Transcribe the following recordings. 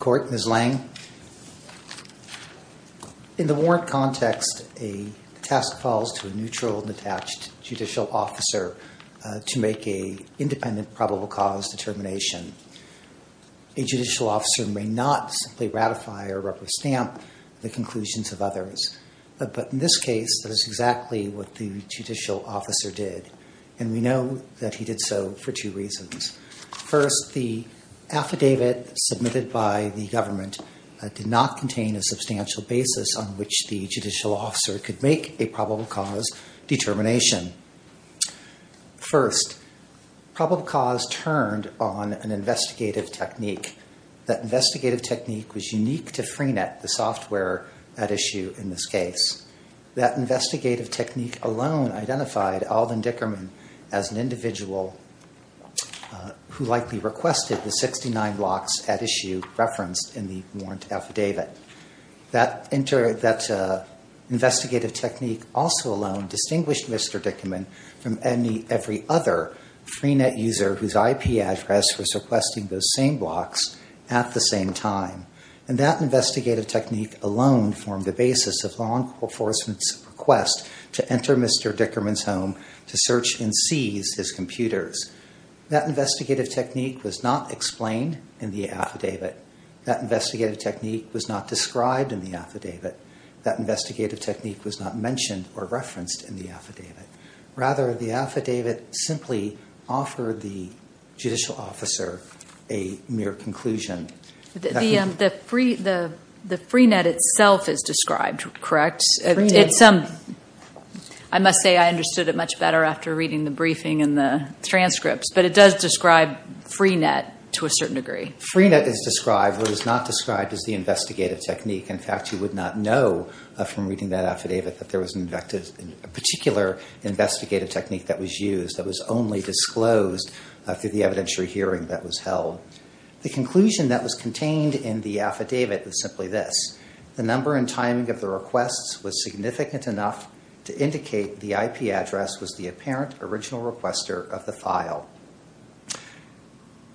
Court, Ms. Lange. In the warrant context, a test falls to a neutral and attached judicial officer to make an independent probable cause determination. A judicial officer may not simply ratify or rubber stamp the conclusions of others. But in this case, that is exactly what the judicial officer did. And we know that he did so for two reasons. First, the government did not contain a substantial basis on which the judicial officer could make a probable cause determination. First, probable cause turned on an investigative technique. That investigative technique was unique to FreeNet, the software at issue in this case. That investigative technique alone identified Alden Dickerman as an individual who likely requested the 69 blocks at issue referenced in the warrant affidavit. That investigative technique also alone distinguished Mr. Dickerman from every other FreeNet user whose IP address was requesting those same blocks at the same time. And that investigative technique alone formed the basis of law enforcement's request to enter Mr. Dickerman's home to search and seize his computers. That investigative technique was not explained in the affidavit. That investigative technique was not described in the affidavit. That investigative technique was not mentioned or referenced in the affidavit. Rather, the affidavit simply offered the judicial officer a mere conclusion. The FreeNet itself is described, correct? I must say I understood it much better after reading the briefing and the transcripts, but it does describe FreeNet to a certain degree. FreeNet is described, but it is not described as the investigative technique. In fact, you would not know from reading that affidavit that there was a particular investigative technique that was used that was only disclosed through the evidentiary hearing that was held. The conclusion that was contained in the affidavit was simply this. The number and timing of the requests was significant enough to indicate the IP address was the apparent original requester of the file.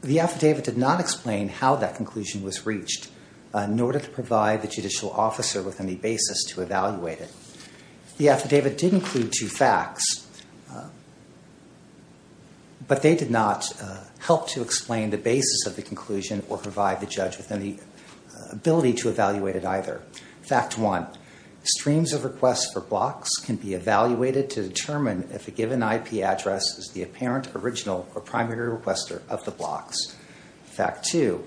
The affidavit did not explain how that conclusion was reached in order to provide the judicial officer with any basis to evaluate it. The affidavit did include two facts, but they did not help to explain the basis of the conclusion or provide the judge with any ability to evaluate it either. Fact one, streams of requests for blocks can be evaluated to determine if a given IP address is the apparent original or primary requester of the blocks. Fact two,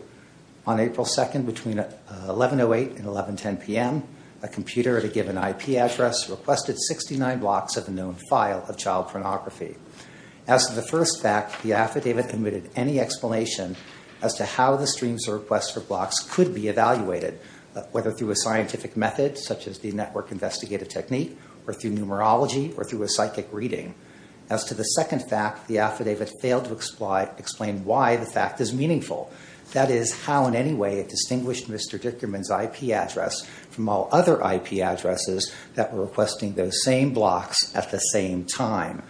on April 2nd between 1108 and 1110 p.m., a computer at a given IP address requested 69 blocks of a known file of child pornography. As to the first fact, the streams of requests for blocks could be evaluated whether through a scientific method such as the network investigative technique or through numerology or through a psychic reading. As to the second fact, the affidavit failed to explain why the fact is meaningful. That is how in any way it distinguished Mr. Dickerman's IP address from all other IP addresses that were requesting those same blocks at the same time.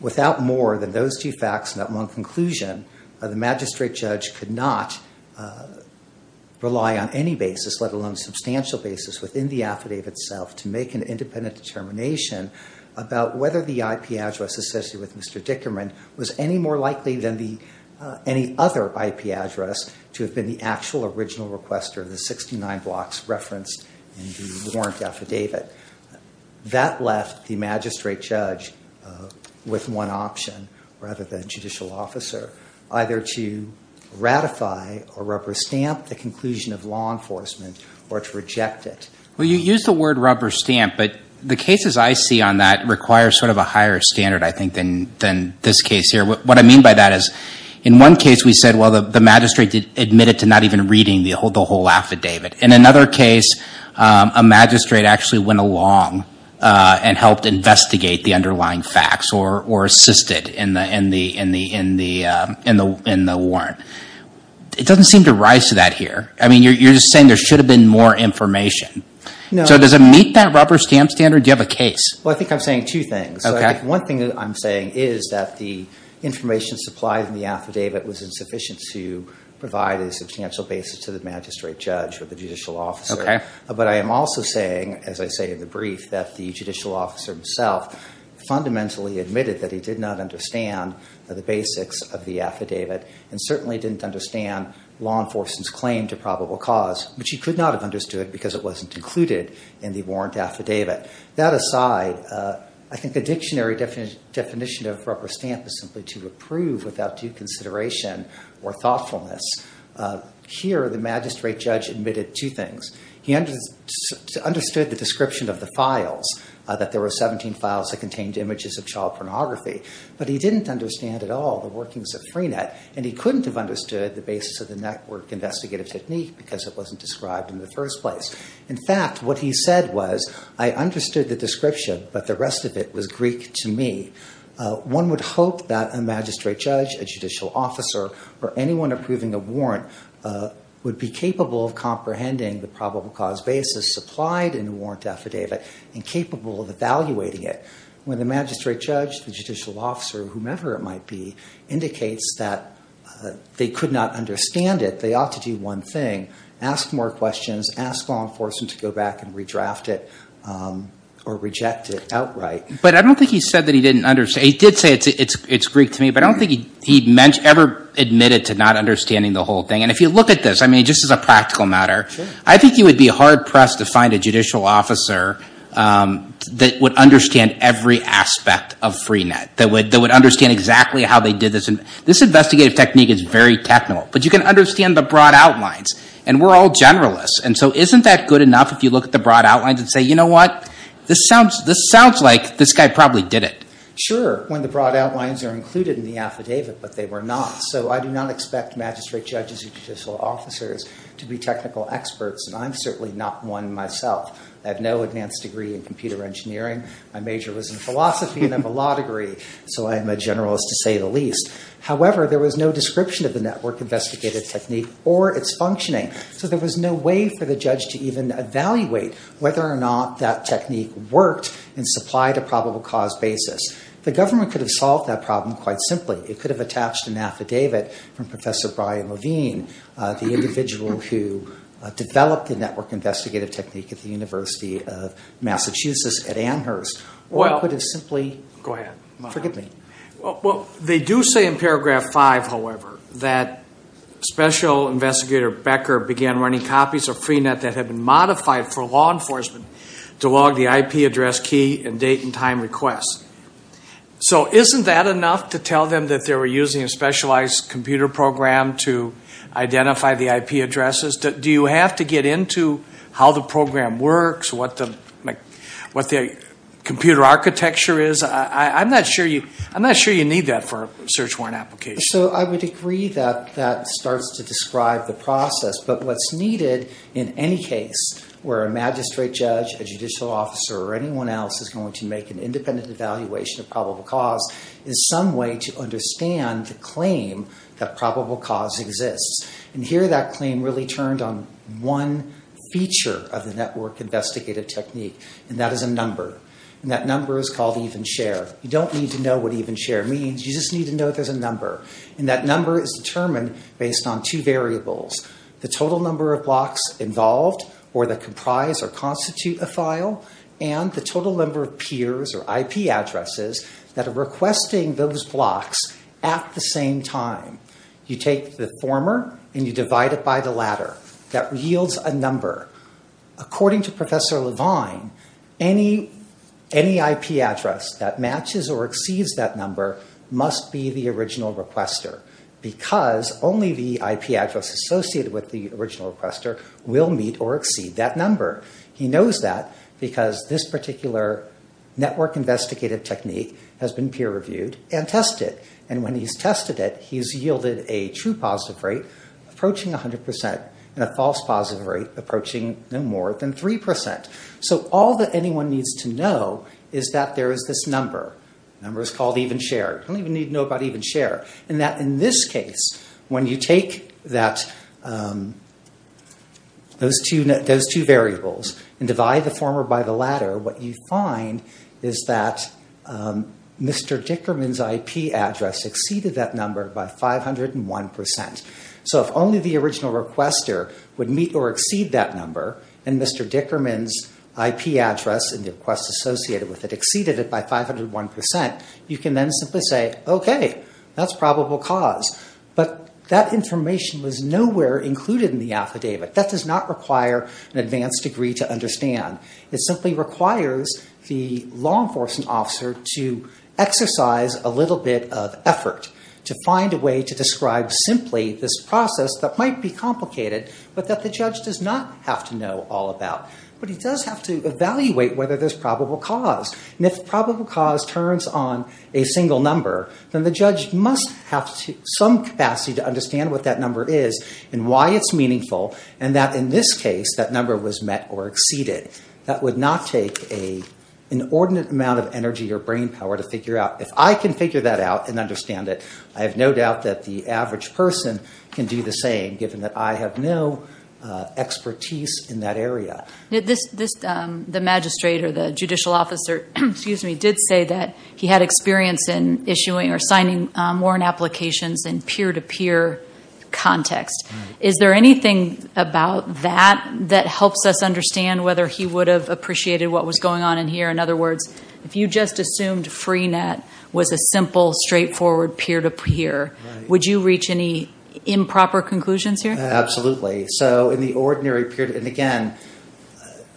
Without more than those two facts and that one conclusion, the magistrate judge could not rely on any basis, let alone substantial basis within the affidavit itself to make an independent determination about whether the IP address associated with Mr. Dickerman was any more likely than any other IP address to have been the actual original requester of the 69 blocks referenced in the warrant affidavit. That left the magistrate judge with one option rather than to ratify or rubber stamp the conclusion of law enforcement or to reject it. Well, you used the word rubber stamp, but the cases I see on that require sort of a higher standard, I think, than this case here. What I mean by that is in one case we said, well, the magistrate admitted to not even reading the whole affidavit. In another case, a magistrate actually went along and helped investigate the warrant. It doesn't seem to rise to that here. I mean, you're just saying there should have been more information. So does it meet that rubber stamp standard? Do you have a case? Well, I think I'm saying two things. One thing that I'm saying is that the information supplied in the affidavit was insufficient to provide a substantial basis to the magistrate judge or the judicial officer. But I am also saying, as I say in the brief, that the judicial officer himself fundamentally admitted that he did not understand the basics of the affidavit and certainly didn't understand law enforcement's claim to probable cause, which he could not have understood because it wasn't included in the warrant affidavit. That aside, I think the dictionary definition of rubber stamp is simply to approve without due consideration or thoughtfulness. Here, the magistrate judge admitted two things. He understood the description of the files, that there were 17 files that contained images of child pornography, but he didn't understand at all the workings of Freenet, and he couldn't have understood the basis of the network investigative technique because it wasn't described in the first place. In fact, what he said was, I understood the description, but the rest of it was Greek to me. One would hope that a magistrate judge, a judicial officer, or anyone approving a warrant would be capable of comprehending the affidavit and capable of evaluating it. When the magistrate judge, the judicial officer, whomever it might be, indicates that they could not understand it, they ought to do one thing, ask more questions, ask law enforcement to go back and redraft it or reject it outright. But I don't think he said that he didn't understand. He did say it's Greek to me, but I don't think he ever admitted to not understanding the whole thing. And if you look at this, I mean, just as a practical matter, I think you would be hard pressed to find a judicial officer that would understand every aspect of Freenet, that would understand exactly how they did this. And this investigative technique is very technical, but you can understand the broad outlines. And we're all generalists, and so isn't that good enough if you look at the broad outlines and say, you know what? This sounds like this guy probably did it. Sure, when the broad outlines are included in the affidavit, but they were not. So I do not expect magistrate judges or judicial officers to be technical experts, and I'm certainly not one myself. I have no advanced degree in computer engineering. My major was in philosophy, and I have a law degree, so I am a generalist to say the least. However, there was no description of the network investigative technique or its functioning, so there was no way for the judge to even evaluate whether or not that technique worked and supplied a probable cause basis. The government could have solved that problem quite simply. It could have attached an affidavit from Professor Brian Levine, the individual who developed the network investigative technique at the University of Massachusetts at Amherst. Or it could have simply, forgive me. Well, they do say in paragraph five, however, that Special Investigator Becker began running copies of Freenet that had been modified for law enforcement to log the IP address key and date and request. So isn't that enough to tell them that they were using a specialized computer program to identify the IP addresses? Do you have to get into how the program works, what the computer architecture is? I'm not sure you need that for a search warrant application. So I would agree that that starts to describe the process, but what's needed in any case where a independent evaluation of probable cause is some way to understand the claim that probable cause exists. And here that claim really turned on one feature of the network investigative technique, and that is a number. And that number is called even share. You don't need to know what even share means. You just need to know there's a number. And that number is determined based on two variables, the total number of blocks involved or that comprise or constitute a file, and the total number of peers or IP addresses that are requesting those blocks at the same time. You take the former and you divide it by the latter. That yields a number. According to Professor Levine, any IP address that matches or exceeds that number must be the original requester because only the IP address associated with the original requester will meet or exceed that this particular network investigative technique has been peer reviewed and tested. And when he's tested it, he's yielded a true positive rate approaching 100% and a false positive rate approaching no more than 3%. So all that anyone needs to know is that there is this number. The number is called even share. You don't even need to know about even share. And that in this you find is that Mr. Dickerman's IP address exceeded that number by 501%. So if only the original requester would meet or exceed that number and Mr. Dickerman's IP address and the request associated with it exceeded it by 501%, you can then simply say, okay, that's probable cause. But that information was nowhere included in the affidavit. That does not require an advanced degree to understand. It simply requires the law enforcement officer to exercise a little bit of effort to find a way to describe simply this process that might be complicated, but that the judge does not have to know all about. But he does have to evaluate whether there's probable cause. And if probable cause turns on a single number, then the judge must have some capacity to or exceed it. That would not take an inordinate amount of energy or brain power to figure out. If I can figure that out and understand it, I have no doubt that the average person can do the same, given that I have no expertise in that area. The magistrate or the judicial officer did say that he had experience in issuing or signing warrant applications in peer-to-peer context. Is there anything about that that helps us understand whether he would have appreciated what was going on in here? In other words, if you just assumed Freenet was a simple, straightforward peer-to-peer, would you reach any improper conclusions here? Absolutely. So in the ordinary peer-to-peer, and again,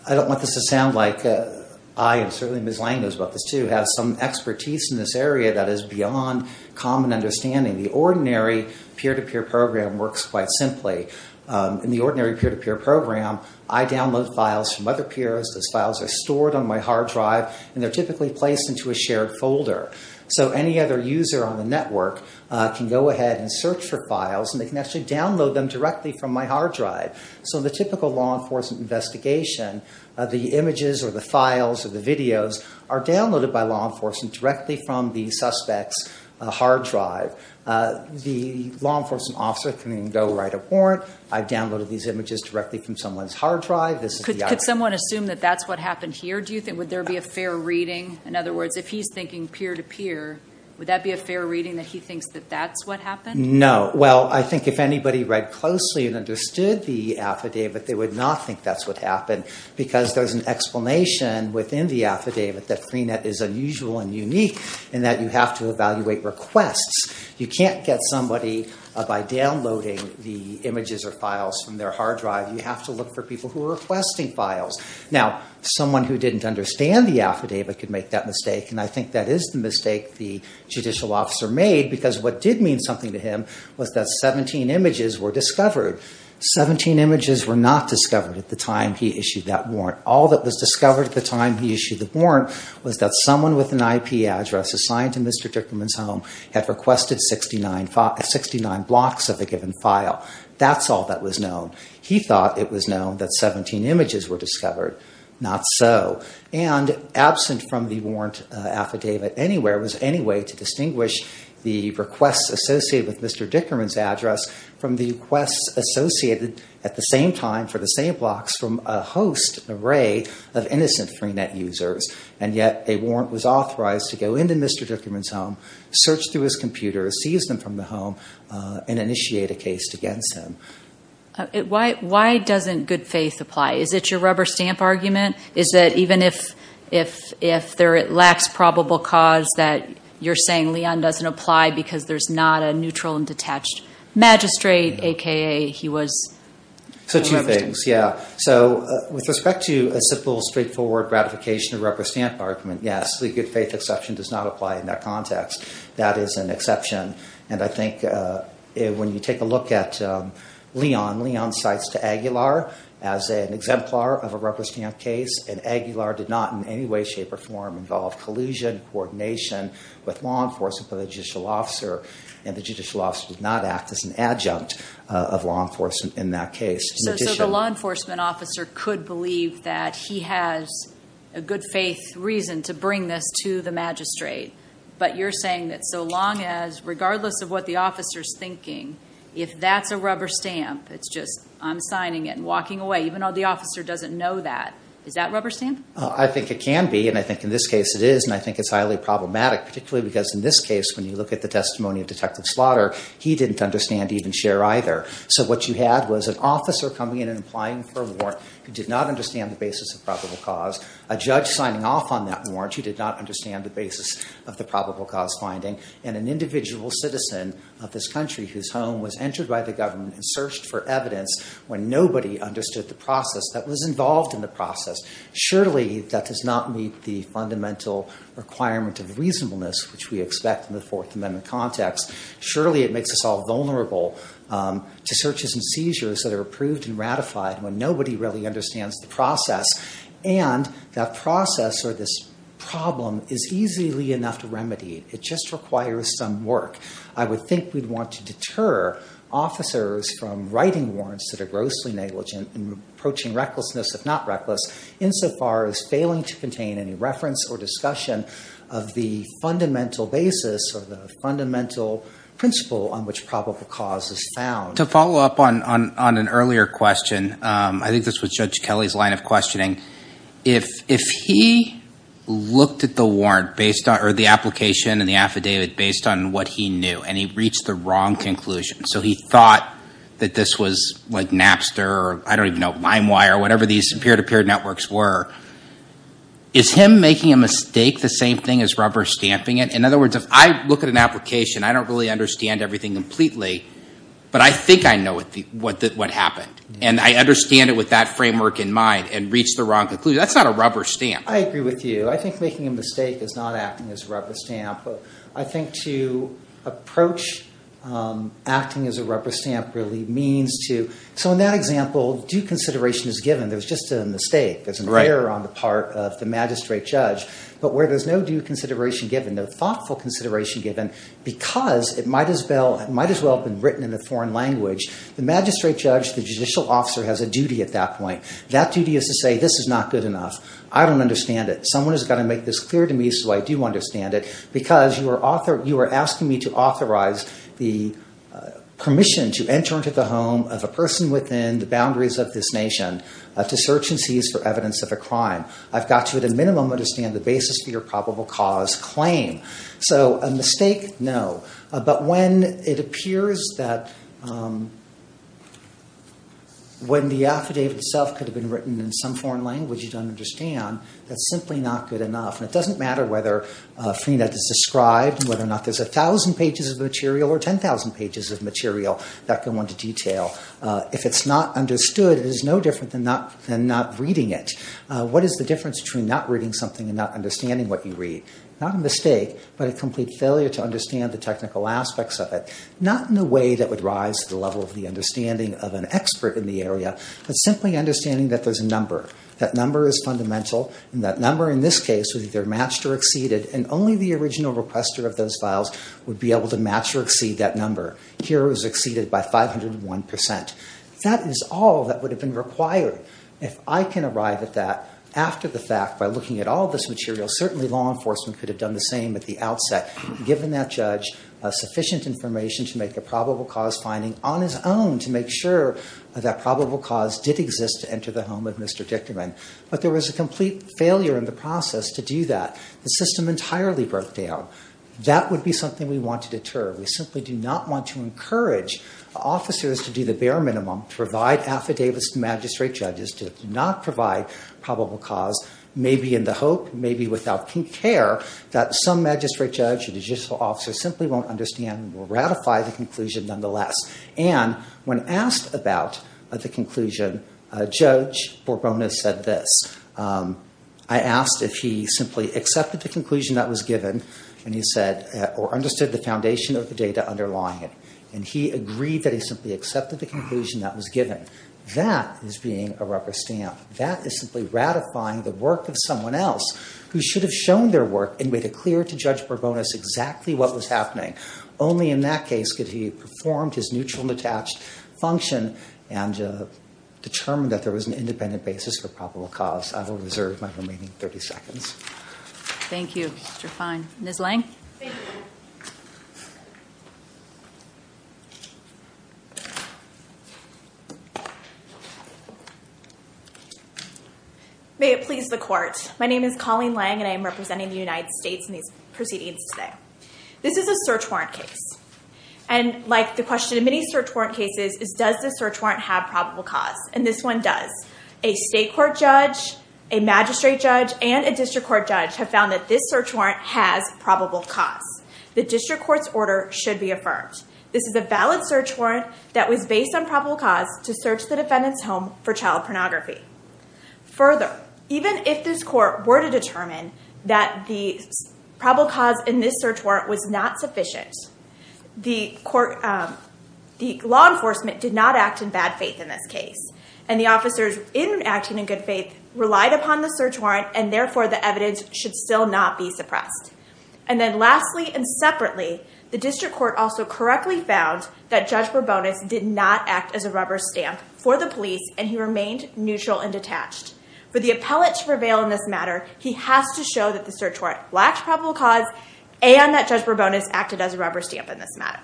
I don't want this to sound like I, and certainly Ms. Lang knows about this too, has some expertise in this area that is beyond common understanding. The ordinary peer-to-peer program works quite simply. In the ordinary peer-to-peer program, I download files from other peers. Those files are stored on my hard drive, and they're typically placed into a shared folder. So any other user on the network can go ahead and search for files, and they can actually download them directly from my hard drive. So the typical law enforcement investigation, the images or the files or the videos are downloaded by law enforcement directly from the suspect's hard drive. The law enforcement officer can then go write a warrant. I've downloaded these images directly from someone's hard drive. Could someone assume that that's what happened here? Would there be a fair reading? In other words, if he's thinking peer-to-peer, would that be a fair reading that he thinks that that's what happened? No. Well, I think if anybody read closely and understood the affidavit, they would not think that's what happened because there's an explanation within the affidavit that Freenet is unusual and unique in that you have to evaluate requests. You can't get somebody by downloading the images or files from their hard drive. You have to look for people who are requesting files. Now, someone who didn't understand the affidavit could make that mistake, and I think that is the mistake the was that 17 images were discovered. 17 images were not discovered at the time he issued that warrant. All that was discovered at the time he issued the warrant was that someone with an IP address assigned to Mr. Dickerman's home had requested 69 blocks of a given file. That's all that was known. He thought it was known that 17 images were discovered. Not so. And absent from the warrant affidavit anywhere was any way to distinguish the requests associated with Mr. Dickerman's address from the requests associated at the same time for the same blocks from a host array of innocent Freenet users, and yet a warrant was authorized to go into Mr. Dickerman's home, search through his computer, seize them from the home, and initiate a case against him. Why doesn't good faith apply? Is it your rubber stamp argument? Is that even if it lacks probable cause that you're saying Leon doesn't apply because there's not a neutral and detached magistrate, a.k.a. he was... So two things, yeah. So with respect to a simple straightforward ratification of rubber stamp argument, yes, the good faith exception does not apply in that context. That is an exception, and I think when you take a look at Leon, Leon cites to Aguilar as an exemplar of a rubber stamp case, and Aguilar did not in any way, shape, or form involve collusion, coordination with law enforcement, with a judicial officer, and the judicial officer did not act as an adjunct of law enforcement in that case. So the law enforcement officer could believe that he has a good faith reason to bring this to the magistrate, but you're saying that so long as, regardless of what the officer's thinking, if that's a rubber stamp, it's just, I'm signing it and walking away, even though the officer doesn't know that. Is that rubber stamp? I think it can be, and I think in this case it is, and I think it's highly problematic, particularly because in this case, when you look at the testimony of Detective Slaughter, he didn't understand even So what you had was an officer coming in and applying for a warrant who did not understand the basis of probable cause, a judge signing off on that warrant who did not understand the basis of the probable cause finding, and an individual citizen of this country whose home was entered by the government and searched for evidence when nobody understood the process that was involved in the process. Surely that does not meet the fundamental requirement of reasonableness which we expect in the Fourth Amendment context. Surely it makes us all vulnerable to searches and seizures that are approved and ratified when nobody really understands the process, and that process or this problem is easily enough to remedy. It just requires some work. I would think we'd want to deter officers from writing warrants that are grossly negligent and approaching recklessness, if not reckless, insofar as failing to contain any reference or discussion of the fundamental basis or the fundamental principle on which probable cause is found. To follow up on an earlier question, I think this was Judge Kelly's line of questioning, if he looked at the warrant based on or the application and the affidavit based on what he knew and he reached the wrong conclusion, so he thought that this was like Napster or I don't even know LimeWire or whatever these peer-to-peer networks were, is him making a mistake the same thing as rubber stamping it? In other words, if I look at an application, I don't really understand everything completely, but I think I know what happened and I understand it with that framework in mind and reach the wrong conclusion. That's not a rubber stamp. I agree with you. I think making a mistake is not acting as a rubber stamp. I think to approach acting as a rubber stamp really means to, so in that example, due consideration is given, there's just a mistake, there's an error on the part of the magistrate judge, but where there's due consideration given, thoughtful consideration given, because it might as well have been written in a foreign language, the magistrate judge, the judicial officer has a duty at that point. That duty is to say, this is not good enough. I don't understand it. Someone has got to make this clear to me so I do understand it, because you are asking me to authorize the permission to enter into the home of a person within the boundaries of this nation to search and seize for evidence of a crime. I've got to at a minimum understand the basis for your probable cause claim. So a mistake, no. But when it appears that when the affidavit itself could have been written in some foreign language you don't understand, that's simply not good enough. It doesn't matter whether Freenet is described, whether or not there's 1,000 pages of material or 10,000 pages of material that go into detail. If it's not understood, it is no different than not reading it. What is the difference between not reading something and not understanding what you read? Not a mistake, but a complete failure to understand the technical aspects of it. Not in a way that would rise to the level of the understanding of an expert in the area, but simply understanding that there's a number. That number is fundamental, and that number in this case was either matched or exceeded, and only the original requester of those files would be able to match or exceed that number. Here it was exceeded by 501%. That is all that I can arrive at that after the fact by looking at all this material. Certainly law enforcement could have done the same at the outset, given that judge sufficient information to make a probable cause finding on his own to make sure that probable cause did exist to enter the home of Mr. Dickerman. But there was a complete failure in the process to do that. The system entirely broke down. That would be something we want to deter. We simply do not want to encourage officers to do the bare minimum, to provide affidavits to magistrate judges, to not provide probable cause, maybe in the hope, maybe without care, that some magistrate judge or judicial officer simply won't understand or ratify the conclusion nonetheless. When asked about the conclusion, Judge Borbono said this. I asked if he simply accepted the conclusion that was given, and he said, or understood the foundation of the data underlying it. And he agreed that he simply accepted the conclusion that was given. That is being a rubber stamp. That is simply ratifying the work of someone else who should have shown their work and made it clear to Judge Borbono exactly what was happening. Only in that case could he perform his neutral and attached function and determine that there was an independent basis for probable cause. I will reserve my time. Ms. Lange? Thank you. May it please the Court. My name is Colleen Lange, and I am representing the United States in these proceedings today. This is a search warrant case. And like the question in many search warrant cases is, does the search warrant have probable cause? And this one does. A state court judge, a magistrate judge, and a district court judge have found that this probable cause. The district court's order should be affirmed. This is a valid search warrant that was based on probable cause to search the defendant's home for child pornography. Further, even if this court were to determine that the probable cause in this search warrant was not sufficient, the law enforcement did not act in bad faith in this case. And the officers in acting in good faith relied upon the search warrant, and therefore the evidence should still not be found. And then lastly and separately, the district court also correctly found that Judge Bourbonis did not act as a rubber stamp for the police, and he remained neutral and detached. For the appellate to prevail in this matter, he has to show that the search warrant lacks probable cause and that Judge Bourbonis acted as a rubber stamp in this matter.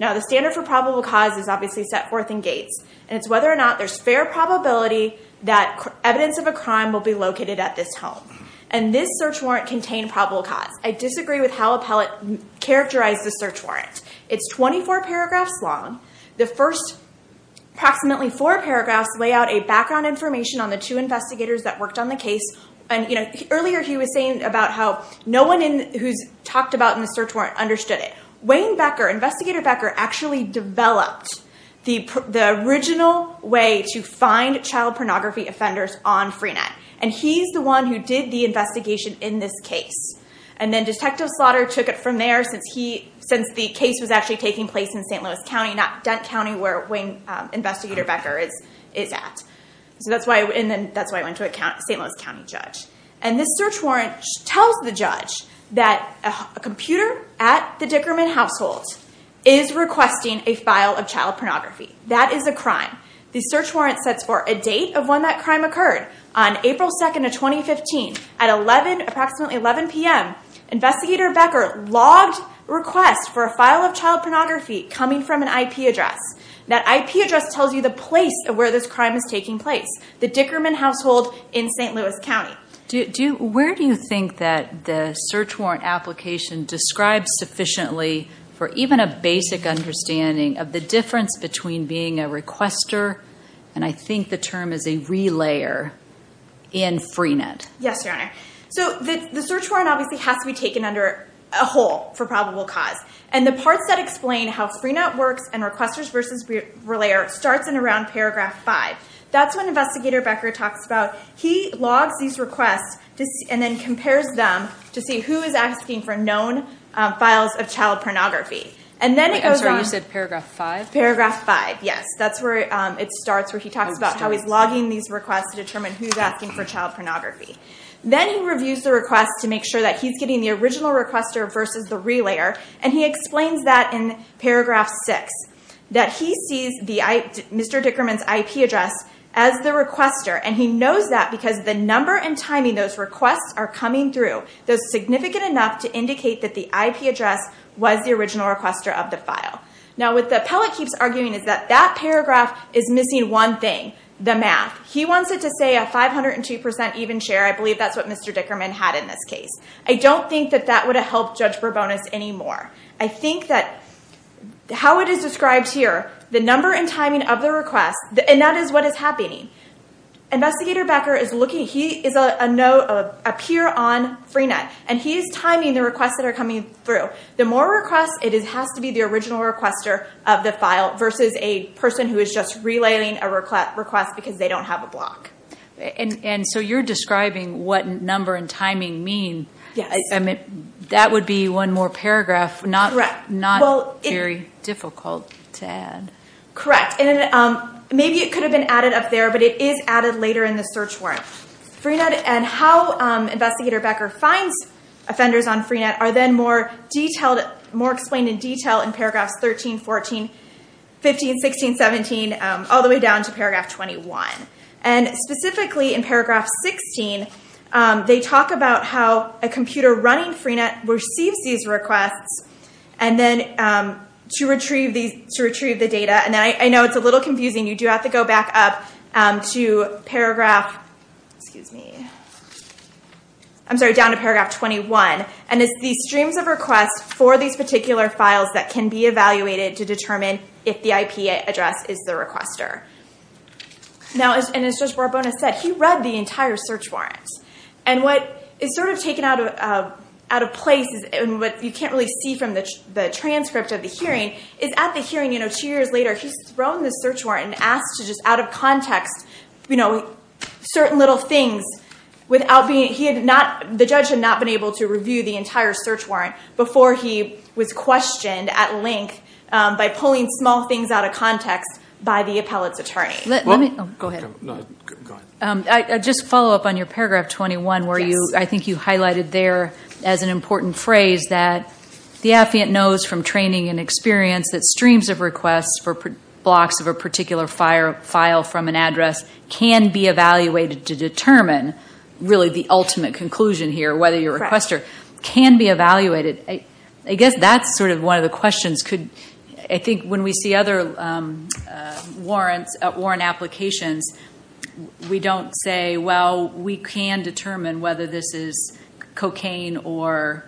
Now the standard for probable cause is obviously set forth in Gates, and it's whether or not there's fair probability that evidence of a how appellate characterized the search warrant. It's 24 paragraphs long. The first approximately four paragraphs lay out a background information on the two investigators that worked on the case. And earlier he was saying about how no one who's talked about in the search warrant understood it. Wayne Becker, Investigator Becker, actually developed the original way to find child pornography offenders on Freenet. And he's the one who did the investigation in this case, and then Detective Slaughter took it from there since the case was actually taking place in St. Louis County, not Dent County, where Wayne Investigator Becker is at. And then that's why I went to a St. Louis County judge. And this search warrant tells the judge that a computer at the Dickerman household is requesting a file of child pornography. That is a crime. The search warrant sets for a date of when that crime occurred on April 2nd of 2015 at approximately 11 p.m. Investigator Becker logged requests for a file of child pornography coming from an IP address. That IP address tells you the place of where this crime is taking place, the Dickerman household in St. Louis County. Where do you think that the search warrant application describes sufficiently for even a basic understanding of the difference between a requester and I think the term is a relayer in Freenet? Yes, Your Honor. So the search warrant obviously has to be taken under a whole for probable cause. And the parts that explain how Freenet works and requesters versus relayer starts in around paragraph five. That's when Investigator Becker talks about, he logs these requests and then compares them to see who is asking for known files of child pornography. And then it goes on- I'm sorry, you said paragraph five? Paragraph five, yes. That's where it starts where he talks about how he's logging these requests to determine who's asking for child pornography. Then he reviews the request to make sure that he's getting the original requester versus the relayer. And he explains that in paragraph six, that he sees Mr. Dickerman's IP address as the requester. And he knows that because the number and timing those requests are coming through, those significant enough to indicate that the IP address was the original requester of the file. Now what the appellate keeps arguing is that that paragraph is missing one thing, the math. He wants it to say a 502% even share. I believe that's what Mr. Dickerman had in this case. I don't think that that would have helped Judge Bourbonus anymore. I think that how it is described here, the number and timing of the request, and that is what is happening. Investigator Becker is looking, he is a peer on Freenet, and he is timing the requests that are coming through. The more requests, it has to be the original requester of the file versus a person who is just relaying a request because they don't have a block. And so you're describing what number and timing mean. Yes. That would be one more paragraph, not very difficult to add. Correct. Maybe it could have been added up there, but it is added later in the search warrant. Freenet and how Investigator Becker finds offenders on Freenet are then more explained in detail in paragraphs 13, 14, 15, 16, 17, all the way down to paragraph 21. And specifically in paragraph 16, they talk about how a computer running Freenet receives these requests to retrieve the data. And I know it's a little back up to paragraph, excuse me, I'm sorry, down to paragraph 21. And it's these streams of requests for these particular files that can be evaluated to determine if the IP address is the requester. Now, and as Judge Barbona said, he read the entire search warrant. And what is sort of taken out of place, and what you can't really see from the transcript of the hearing, is at the hearing two years later, he's thrown this search warrant and asked to just out of context certain little things without being, he had not, the judge had not been able to review the entire search warrant before he was questioned at length by pulling small things out of context by the appellate's attorney. Let me, oh, go ahead. No, go ahead. I just follow up on your paragraph 21 where you, I think you highlighted there as an important phrase that the affiant knows from training and experience that streams of requests for a particular file from an address can be evaluated to determine really the ultimate conclusion here, whether your requester can be evaluated. I guess that's sort of one of the questions. I think when we see other warrant applications, we don't say, well, we can determine whether this is cocaine or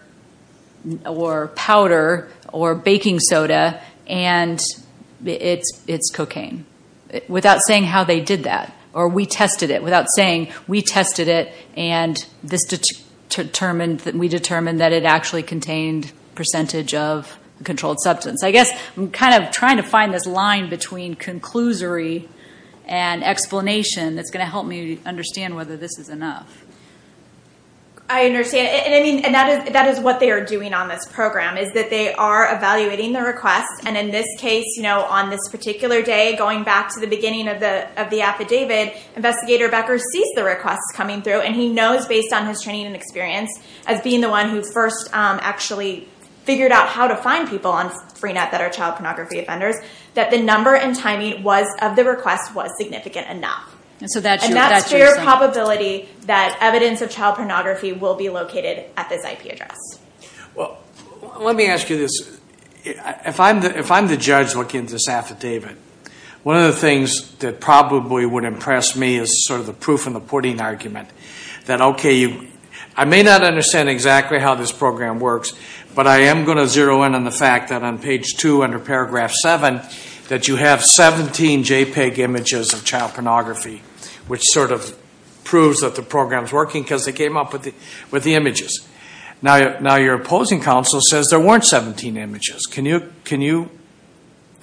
powder or baking soda, and it's cocaine, without saying how they did that, or we tested it, without saying we tested it and we determined that it actually contained a percentage of a controlled substance. I guess I'm kind of trying to find this line between conclusory and explanation that's going to help me understand whether this is enough. I understand, and that is what they are doing on this program, is that they are evaluating the request, and in this case, on this particular day, going back to the beginning of the affidavit, investigator Becker sees the requests coming through, and he knows based on his training and experience as being the one who first actually figured out how to find people on Freenet that are child pornography offenders, that the number and timing of the request was located at this IP address. Let me ask you this. If I'm the judge looking at this affidavit, one of the things that probably would impress me is sort of the proof in the pudding argument. I may not understand exactly how this program works, but I am going to zero in on the fact that on page two, under paragraph seven, that you have 17 JPEG images of child pornography, which sort of proves that the program is working because they came up with the images. Now your opposing counsel says there weren't 17 images. Can you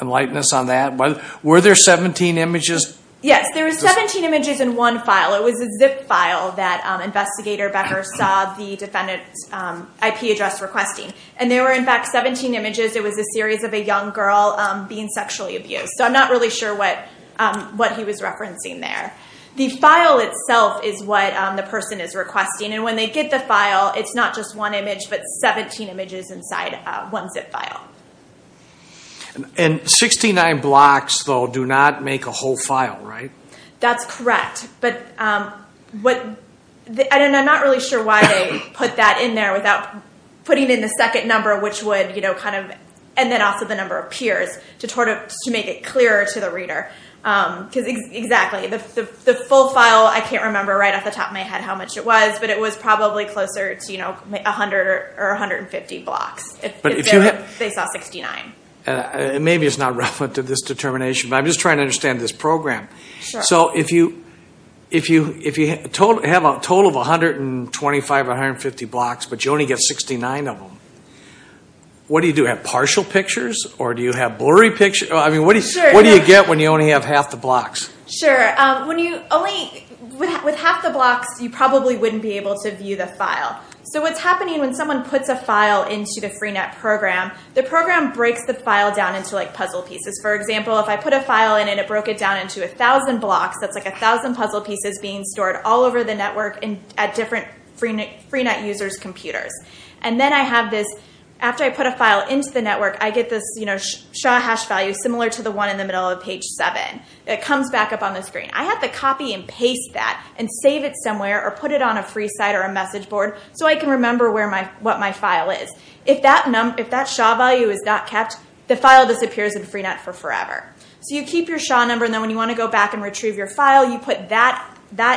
enlighten us on that? Were there 17 images? Yes, there were 17 images in one file. It was a zip file that investigator Becker saw the defendant's IP address requesting, and there were in fact 17 images. It was a series of a young girl being sexually abused, so I'm not really sure what he was The file itself is what the person is requesting. When they get the file, it's not just one image, but 17 images inside one zip file. Sixty-nine blocks, though, do not make a whole file, right? That's correct. I'm not really sure why they put that in there without putting in the second number, and then also the number of peers, to make it clearer to the reader. Because exactly, the full file, I can't remember right off the top of my head how much it was, but it was probably closer to 100 or 150 blocks if they saw 69. Maybe it's not relevant to this determination, but I'm just trying to understand this program. So if you have a total of 125 or 150 blocks, but you only get 69 of them, what do you do? Do you have partial pictures, or do you have blurry pictures? What do you get when you only have half the blocks? Sure. With half the blocks, you probably wouldn't be able to view the file. So what's happening when someone puts a file into the Freenet program, the program breaks the file down into puzzle pieces. For example, if I put a file in and it broke it down into 1,000 blocks, that's like 1,000 puzzle pieces being stored all over the After I put a file into the network, I get this SHA hash value, similar to the one in the middle of page seven. It comes back up on the screen. I have to copy and paste that and save it somewhere, or put it on a free site or a message board, so I can remember what my file is. If that SHA value is not kept, the file disappears in Freenet for forever. So you keep your SHA number, and then when you want to go back and retrieve your file, you put that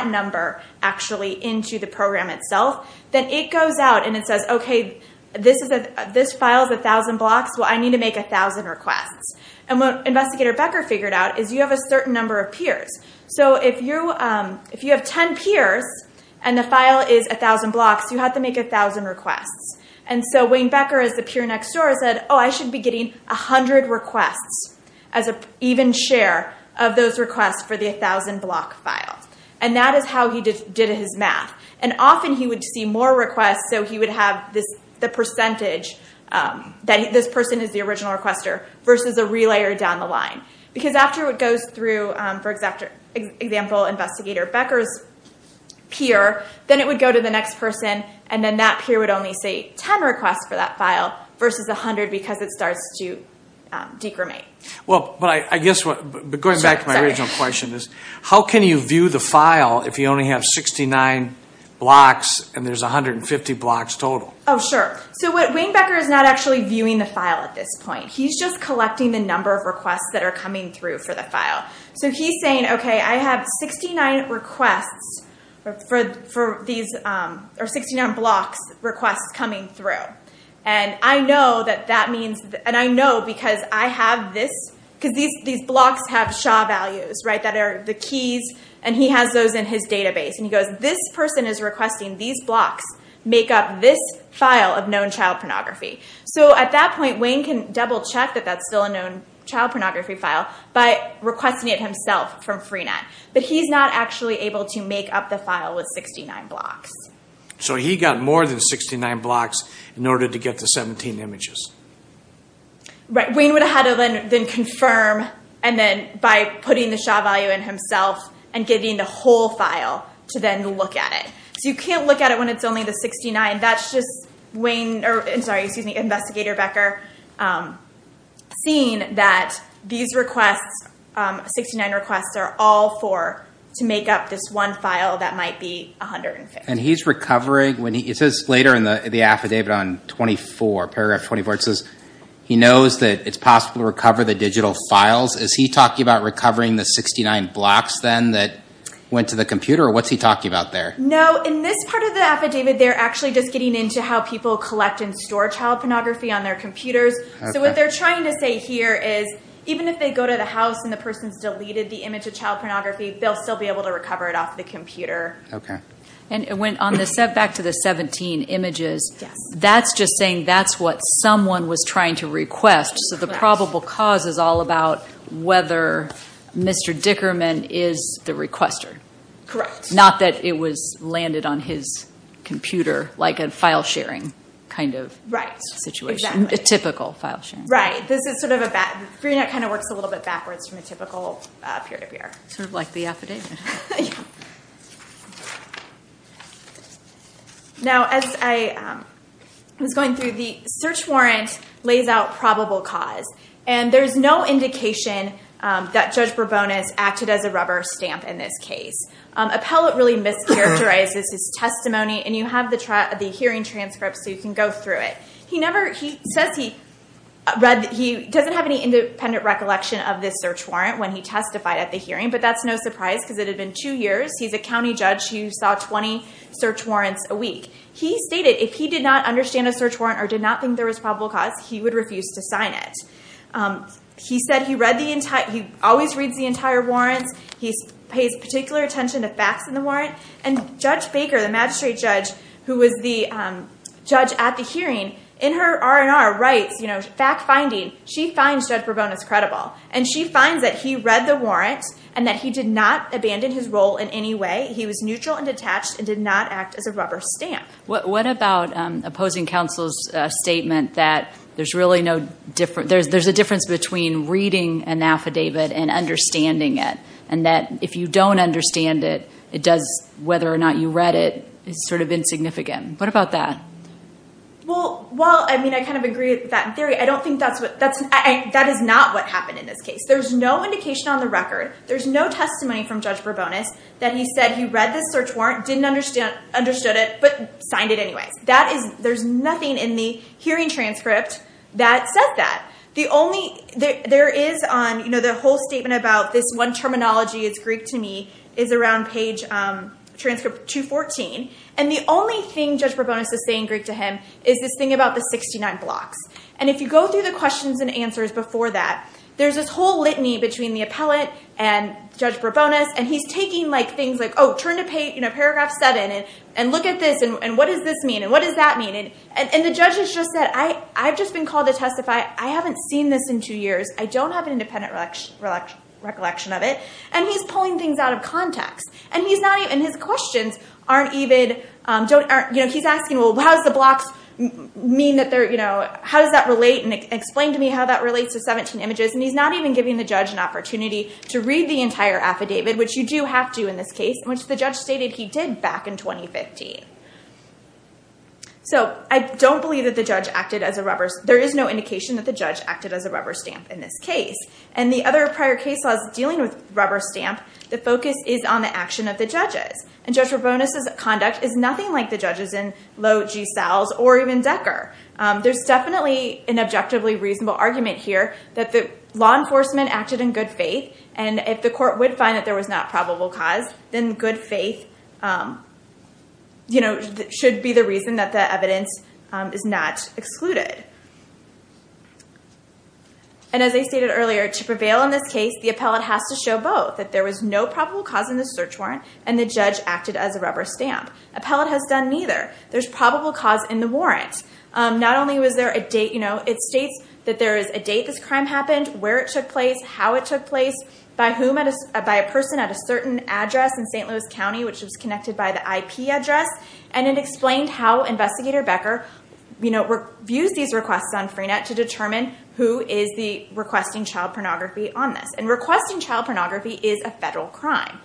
number actually into the program itself. Then it goes out and it says, okay, this file is 1,000 blocks. Well, I need to make 1,000 requests. And what Investigator Becker figured out is you have a certain number of peers. So if you have 10 peers and the file is 1,000 blocks, you have to make 1,000 requests. And so Wayne Becker, as the peer next door, said, oh, I should be getting 100 requests as an even share of those requests for the 1,000 block file. And that is how he did his math. And often he would see more requests, so he would have the percentage that this person is the original requester versus a relayer down the line. Because after it goes through, for example, Investigator Becker's peer, then it would go to the next person, and then that peer would only see 10 requests for that file versus 100, because it starts to decremate. Well, but I guess, going back to my original question is, how can you view the file if you only have 69 blocks and there's 150 blocks total? Oh, sure. So Wayne Becker is not actually viewing the file at this point. He's just collecting the number of requests that are coming through for the file. So he's saying, okay, I have 69 requests for these, or 69 blocks requests coming through. And I know that that means, and I know because I have this, because these blocks have SHA values, right, that are the keys, and he has those in his database. And he goes, this person is requesting these blocks make up this file of known child pornography. So at that point, Wayne can double check that that's still a known child pornography file by requesting it himself from Freenet. But he's not actually able to make up the file with 69 blocks. So he got more than 69 blocks in order to get the 17 images. Right. Wayne would have had to then confirm, and then by putting the SHA value in himself, and getting the whole file to then look at it. So you can't look at it when it's only the 69. That's just Wayne, or sorry, excuse me, Investigator Becker, seeing that these requests, 69 requests are all for, to make up this one file that might be 150. And he's recovering, it says later in the affidavit on paragraph 24, it says he knows that it's possible to recover the digital files. Is he talking about recovering the 69 blocks then that went to the computer, or what's he talking about there? No, in this part of the affidavit, they're actually just getting into how people collect and store child pornography on their computers. So what they're trying to say here is, even if they go to the house and the person's deleted the image of child pornography, they'll still be able to recover it off the computer. Okay. And on the setback to the 17 images, that's just saying that's what someone was trying to request. So the probable cause is all about whether Mr. Dickerman is the requester. Correct. Not that it was landed on his computer like a file sharing kind of situation, a typical file sharing. Right. This is sort of a bad, Breenet kind of works a little bit backwards from a typical period of year. Sort of like the affidavit. Now, as I was going through, the search warrant lays out probable cause. And there's no indication that Judge Bourbonis acted as a rubber stamp in this case. Appellate really mischaracterizes his testimony, and you have the hearing transcripts so you can go through it. He never, says he doesn't have any independent recollection of this search warrant when he testified at the hearing, but that's no surprise because it had been two years. He's a county judge who saw 20 search warrants a week. He stated if he did not understand a search warrant or did not think there was probable cause, he would refuse to sign it. He said he always reads the entire warrants. He pays particular attention to facts in the warrant. And Judge Baker, the magistrate judge, who was the judge at the hearing, in her R&R writes, fact finding, she finds Judge Bourbonis credible. And she finds that he read the warrants and that he did not abandon his role in any way. He was neutral and detached and did not act as a rubber stamp. What about opposing counsel's statement that there's a difference between reading an affidavit and understanding it? And that if you don't understand it, whether or not you read it, it's sort of insignificant. What about that? Well, I mean, I kind of agree with that theory. I don't think that's what... That is not what happened in this case. There's no indication on the record. There's no testimony from Judge Bourbonis that he said he read the search warrant, didn't understood it, but signed it anyway. There's nothing in the hearing transcript that says that. The only... There is on the whole statement about this one terminology, it's Greek to me, is around page transcript 214. And the only thing Judge Bourbonis is saying Greek to him is this thing about the 69 blocks. And if you go through the questions and answers before that, there's this whole litany between the appellate and Judge Bourbonis. And he's taking things like, oh, turn to paragraph seven and look at this. And what does this mean? And what does that mean? And the judge has just said, I've just been called to testify. I haven't seen this in two weeks. And he's pulling things out of context. And his questions aren't even... He's asking, well, how does the blocks mean that they're... How does that relate? And explain to me how that relates to 17 images. And he's not even giving the judge an opportunity to read the entire affidavit, which you do have to in this case, which the judge stated he did back in 2015. So I don't believe that the judge acted as a rubber... There is no indication that the judge acted as a rubber stamp in this case. And the other prior case laws dealing with rubber stamp, the focus is on the action of the judges. And Judge Bourbonis' conduct is nothing like the judges in Lowe, G. Sales, or even Decker. There's definitely an objectively reasonable argument here that the law enforcement acted in good faith. And if the court would find that there was not probable cause, then good faith should be the reason that the evidence is not excluded. And as I stated earlier, to prevail in this case, the appellate has to show both, that there was no probable cause in the search warrant and the judge acted as a rubber stamp. Appellate has done neither. There's probable cause in the warrant. Not only was there a date... It states that there is a date this crime happened, where it took place, how it took place, by whom... By a person at a certain address in St. Louis County, which was connected by the IP address. And it explained how Investigator Becker views these requests on Freenet to determine who is requesting child pornography on this. And requesting child pornography is a federal crime.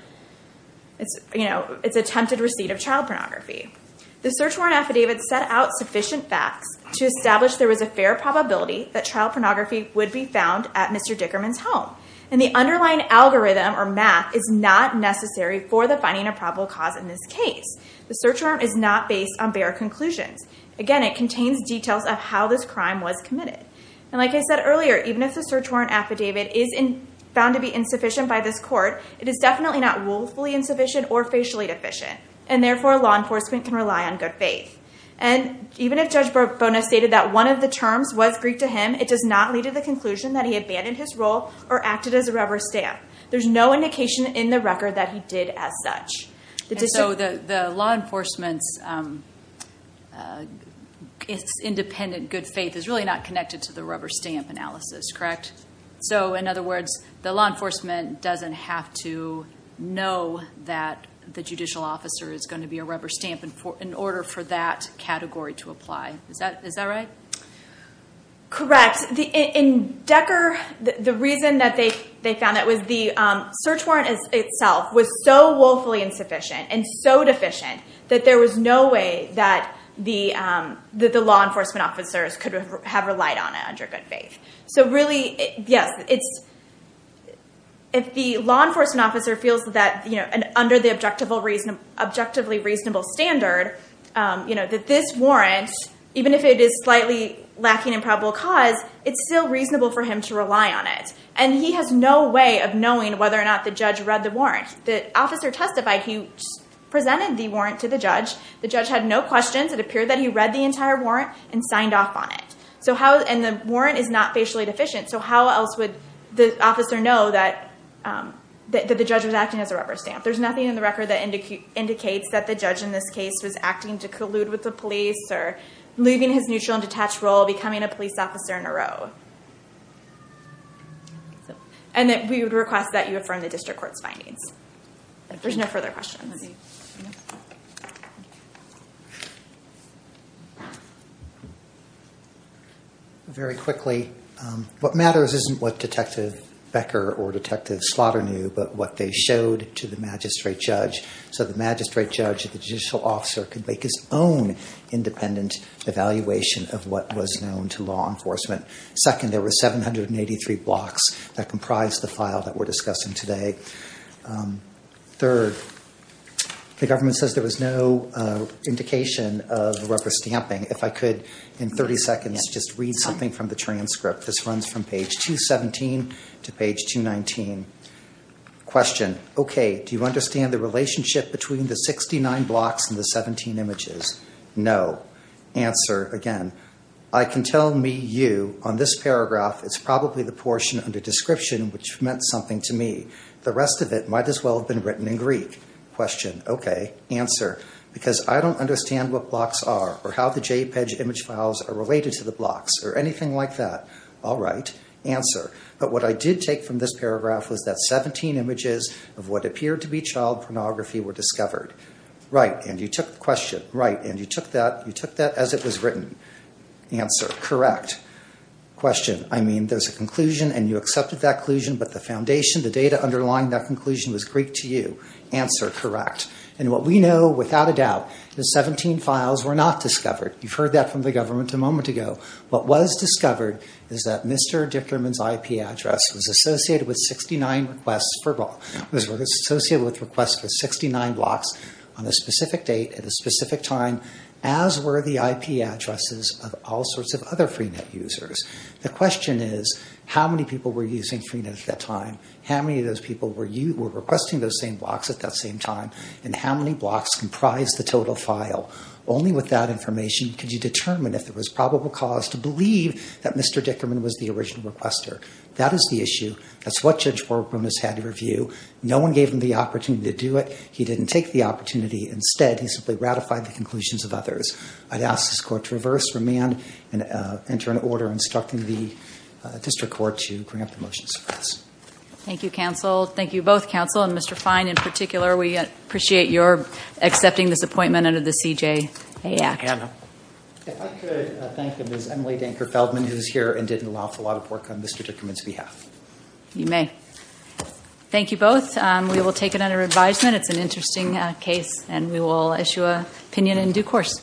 It's attempted receipt of child pornography. The search warrant affidavit set out sufficient facts to establish there was a fair probability that child pornography would be found at Mr. Dickerman's home. And the underlying algorithm or math is not necessary for the finding of probable cause in this case. The search warrant is not based on bare conclusions. Again, it contains details of how this crime was committed. And like I said earlier, even if the search warrant affidavit is found to be insufficient by this court, it is definitely not willfully insufficient or facially deficient. And therefore, law enforcement can rely on good faith. And even if Judge Bonas stated that one of the terms was Greek to him, it does not lead to the conclusion that he abandoned his role or acted as a rubber stamp. There's no indication in the record that he did as such. And so the law enforcement's independent good faith is really not connected to the rubber stamp analysis, correct? So in other words, the law enforcement doesn't have to know that the judicial officer is going to be a rubber stamp in order for that category to apply. Is that right? Correct. In Decker, the reason that they found that was the search warrant itself was so willfully insufficient and so deficient that there was no way that the law enforcement officers could have relied on it under good faith. So really, yes, if the law enforcement officer feels that under the objectively reasonable standard that this warrant, even if it is slightly lacking in probable cause, it's still reasonable for him to rely on it. And he has no way of knowing whether or not the judge read the warrant. The officer testified he presented the warrant to the judge. The judge had no questions. It appeared that he read the entire warrant and signed off on it. And the warrant is not facially deficient. So how else would the officer know that the judge was acting as a rubber stamp? There's nothing in the record that indicates that the judge in this case was acting to collude with the police or leaving his neutral and detached role, becoming a police officer in a row. And that we would request that you affirm the district court's findings. There's no further questions. Thank you. Very quickly, what matters isn't what Detective Becker or Detective Slaughter knew, but what they showed to the magistrate judge. So the magistrate judge, the judicial officer, could make his own independent evaluation of what was known to law enforcement. Second, there were 783 blocks that comprised the file that we're discussing today. Third, the government says there was no indication of rubber stamping. If I could, in 30 seconds, just read something from the transcript. This runs from page 217 to page 219. Question, okay, do you understand the relationship between the 69 blocks and the 17 images? No. Answer, again, I can tell me you, on this paragraph, it's probably the portion under description which meant something to me. The rest of it might as well have been written in Greek. Question, okay. Answer, because I don't understand what blocks are or how the JPEG image files are related to the blocks or anything like that. All right. Answer, but what I did take from this paragraph was that 17 images of what appeared to be child pornography were discovered. Right, and you took the question, right, and you took that as it was written. Answer, correct. Question, I mean, there's a conclusion and you accepted that conclusion, but the foundation, the data underlying that conclusion was Greek to you. Answer, correct. And what we know, without a doubt, the 17 files were not discovered. You've heard that from the government a moment ago. What was discovered is that Mr. Dickerman's IP address was associated with 69 requests for blocks on a specific date at a specific time, as were the IP addresses of all sorts of other users. The question is, how many people were using Freenet at that time? How many of those people were requesting those same blocks at that same time? And how many blocks comprised the total file? Only with that information could you determine if there was probable cause to believe that Mr. Dickerman was the original requester. That is the issue. That's what Judge Warburn has had to review. No one gave him the opportunity to do it. He didn't take the opportunity. Instead, he simply ratified the conclusions of others. I'd ask this court to reverse, remand, enter an order instructing the district court to bring up the motions. Thank you, counsel. Thank you both, counsel, and Mr. Fine in particular. We appreciate your accepting this appointment under the CJA Act. Anna. If I could thank Ms. Emily Denker Feldman, who is here and did an awful lot of work on Mr. Dickerman's behalf. You may. Thank you both. We will take it under advisement. It's an interesting case and we will issue an opinion in due course.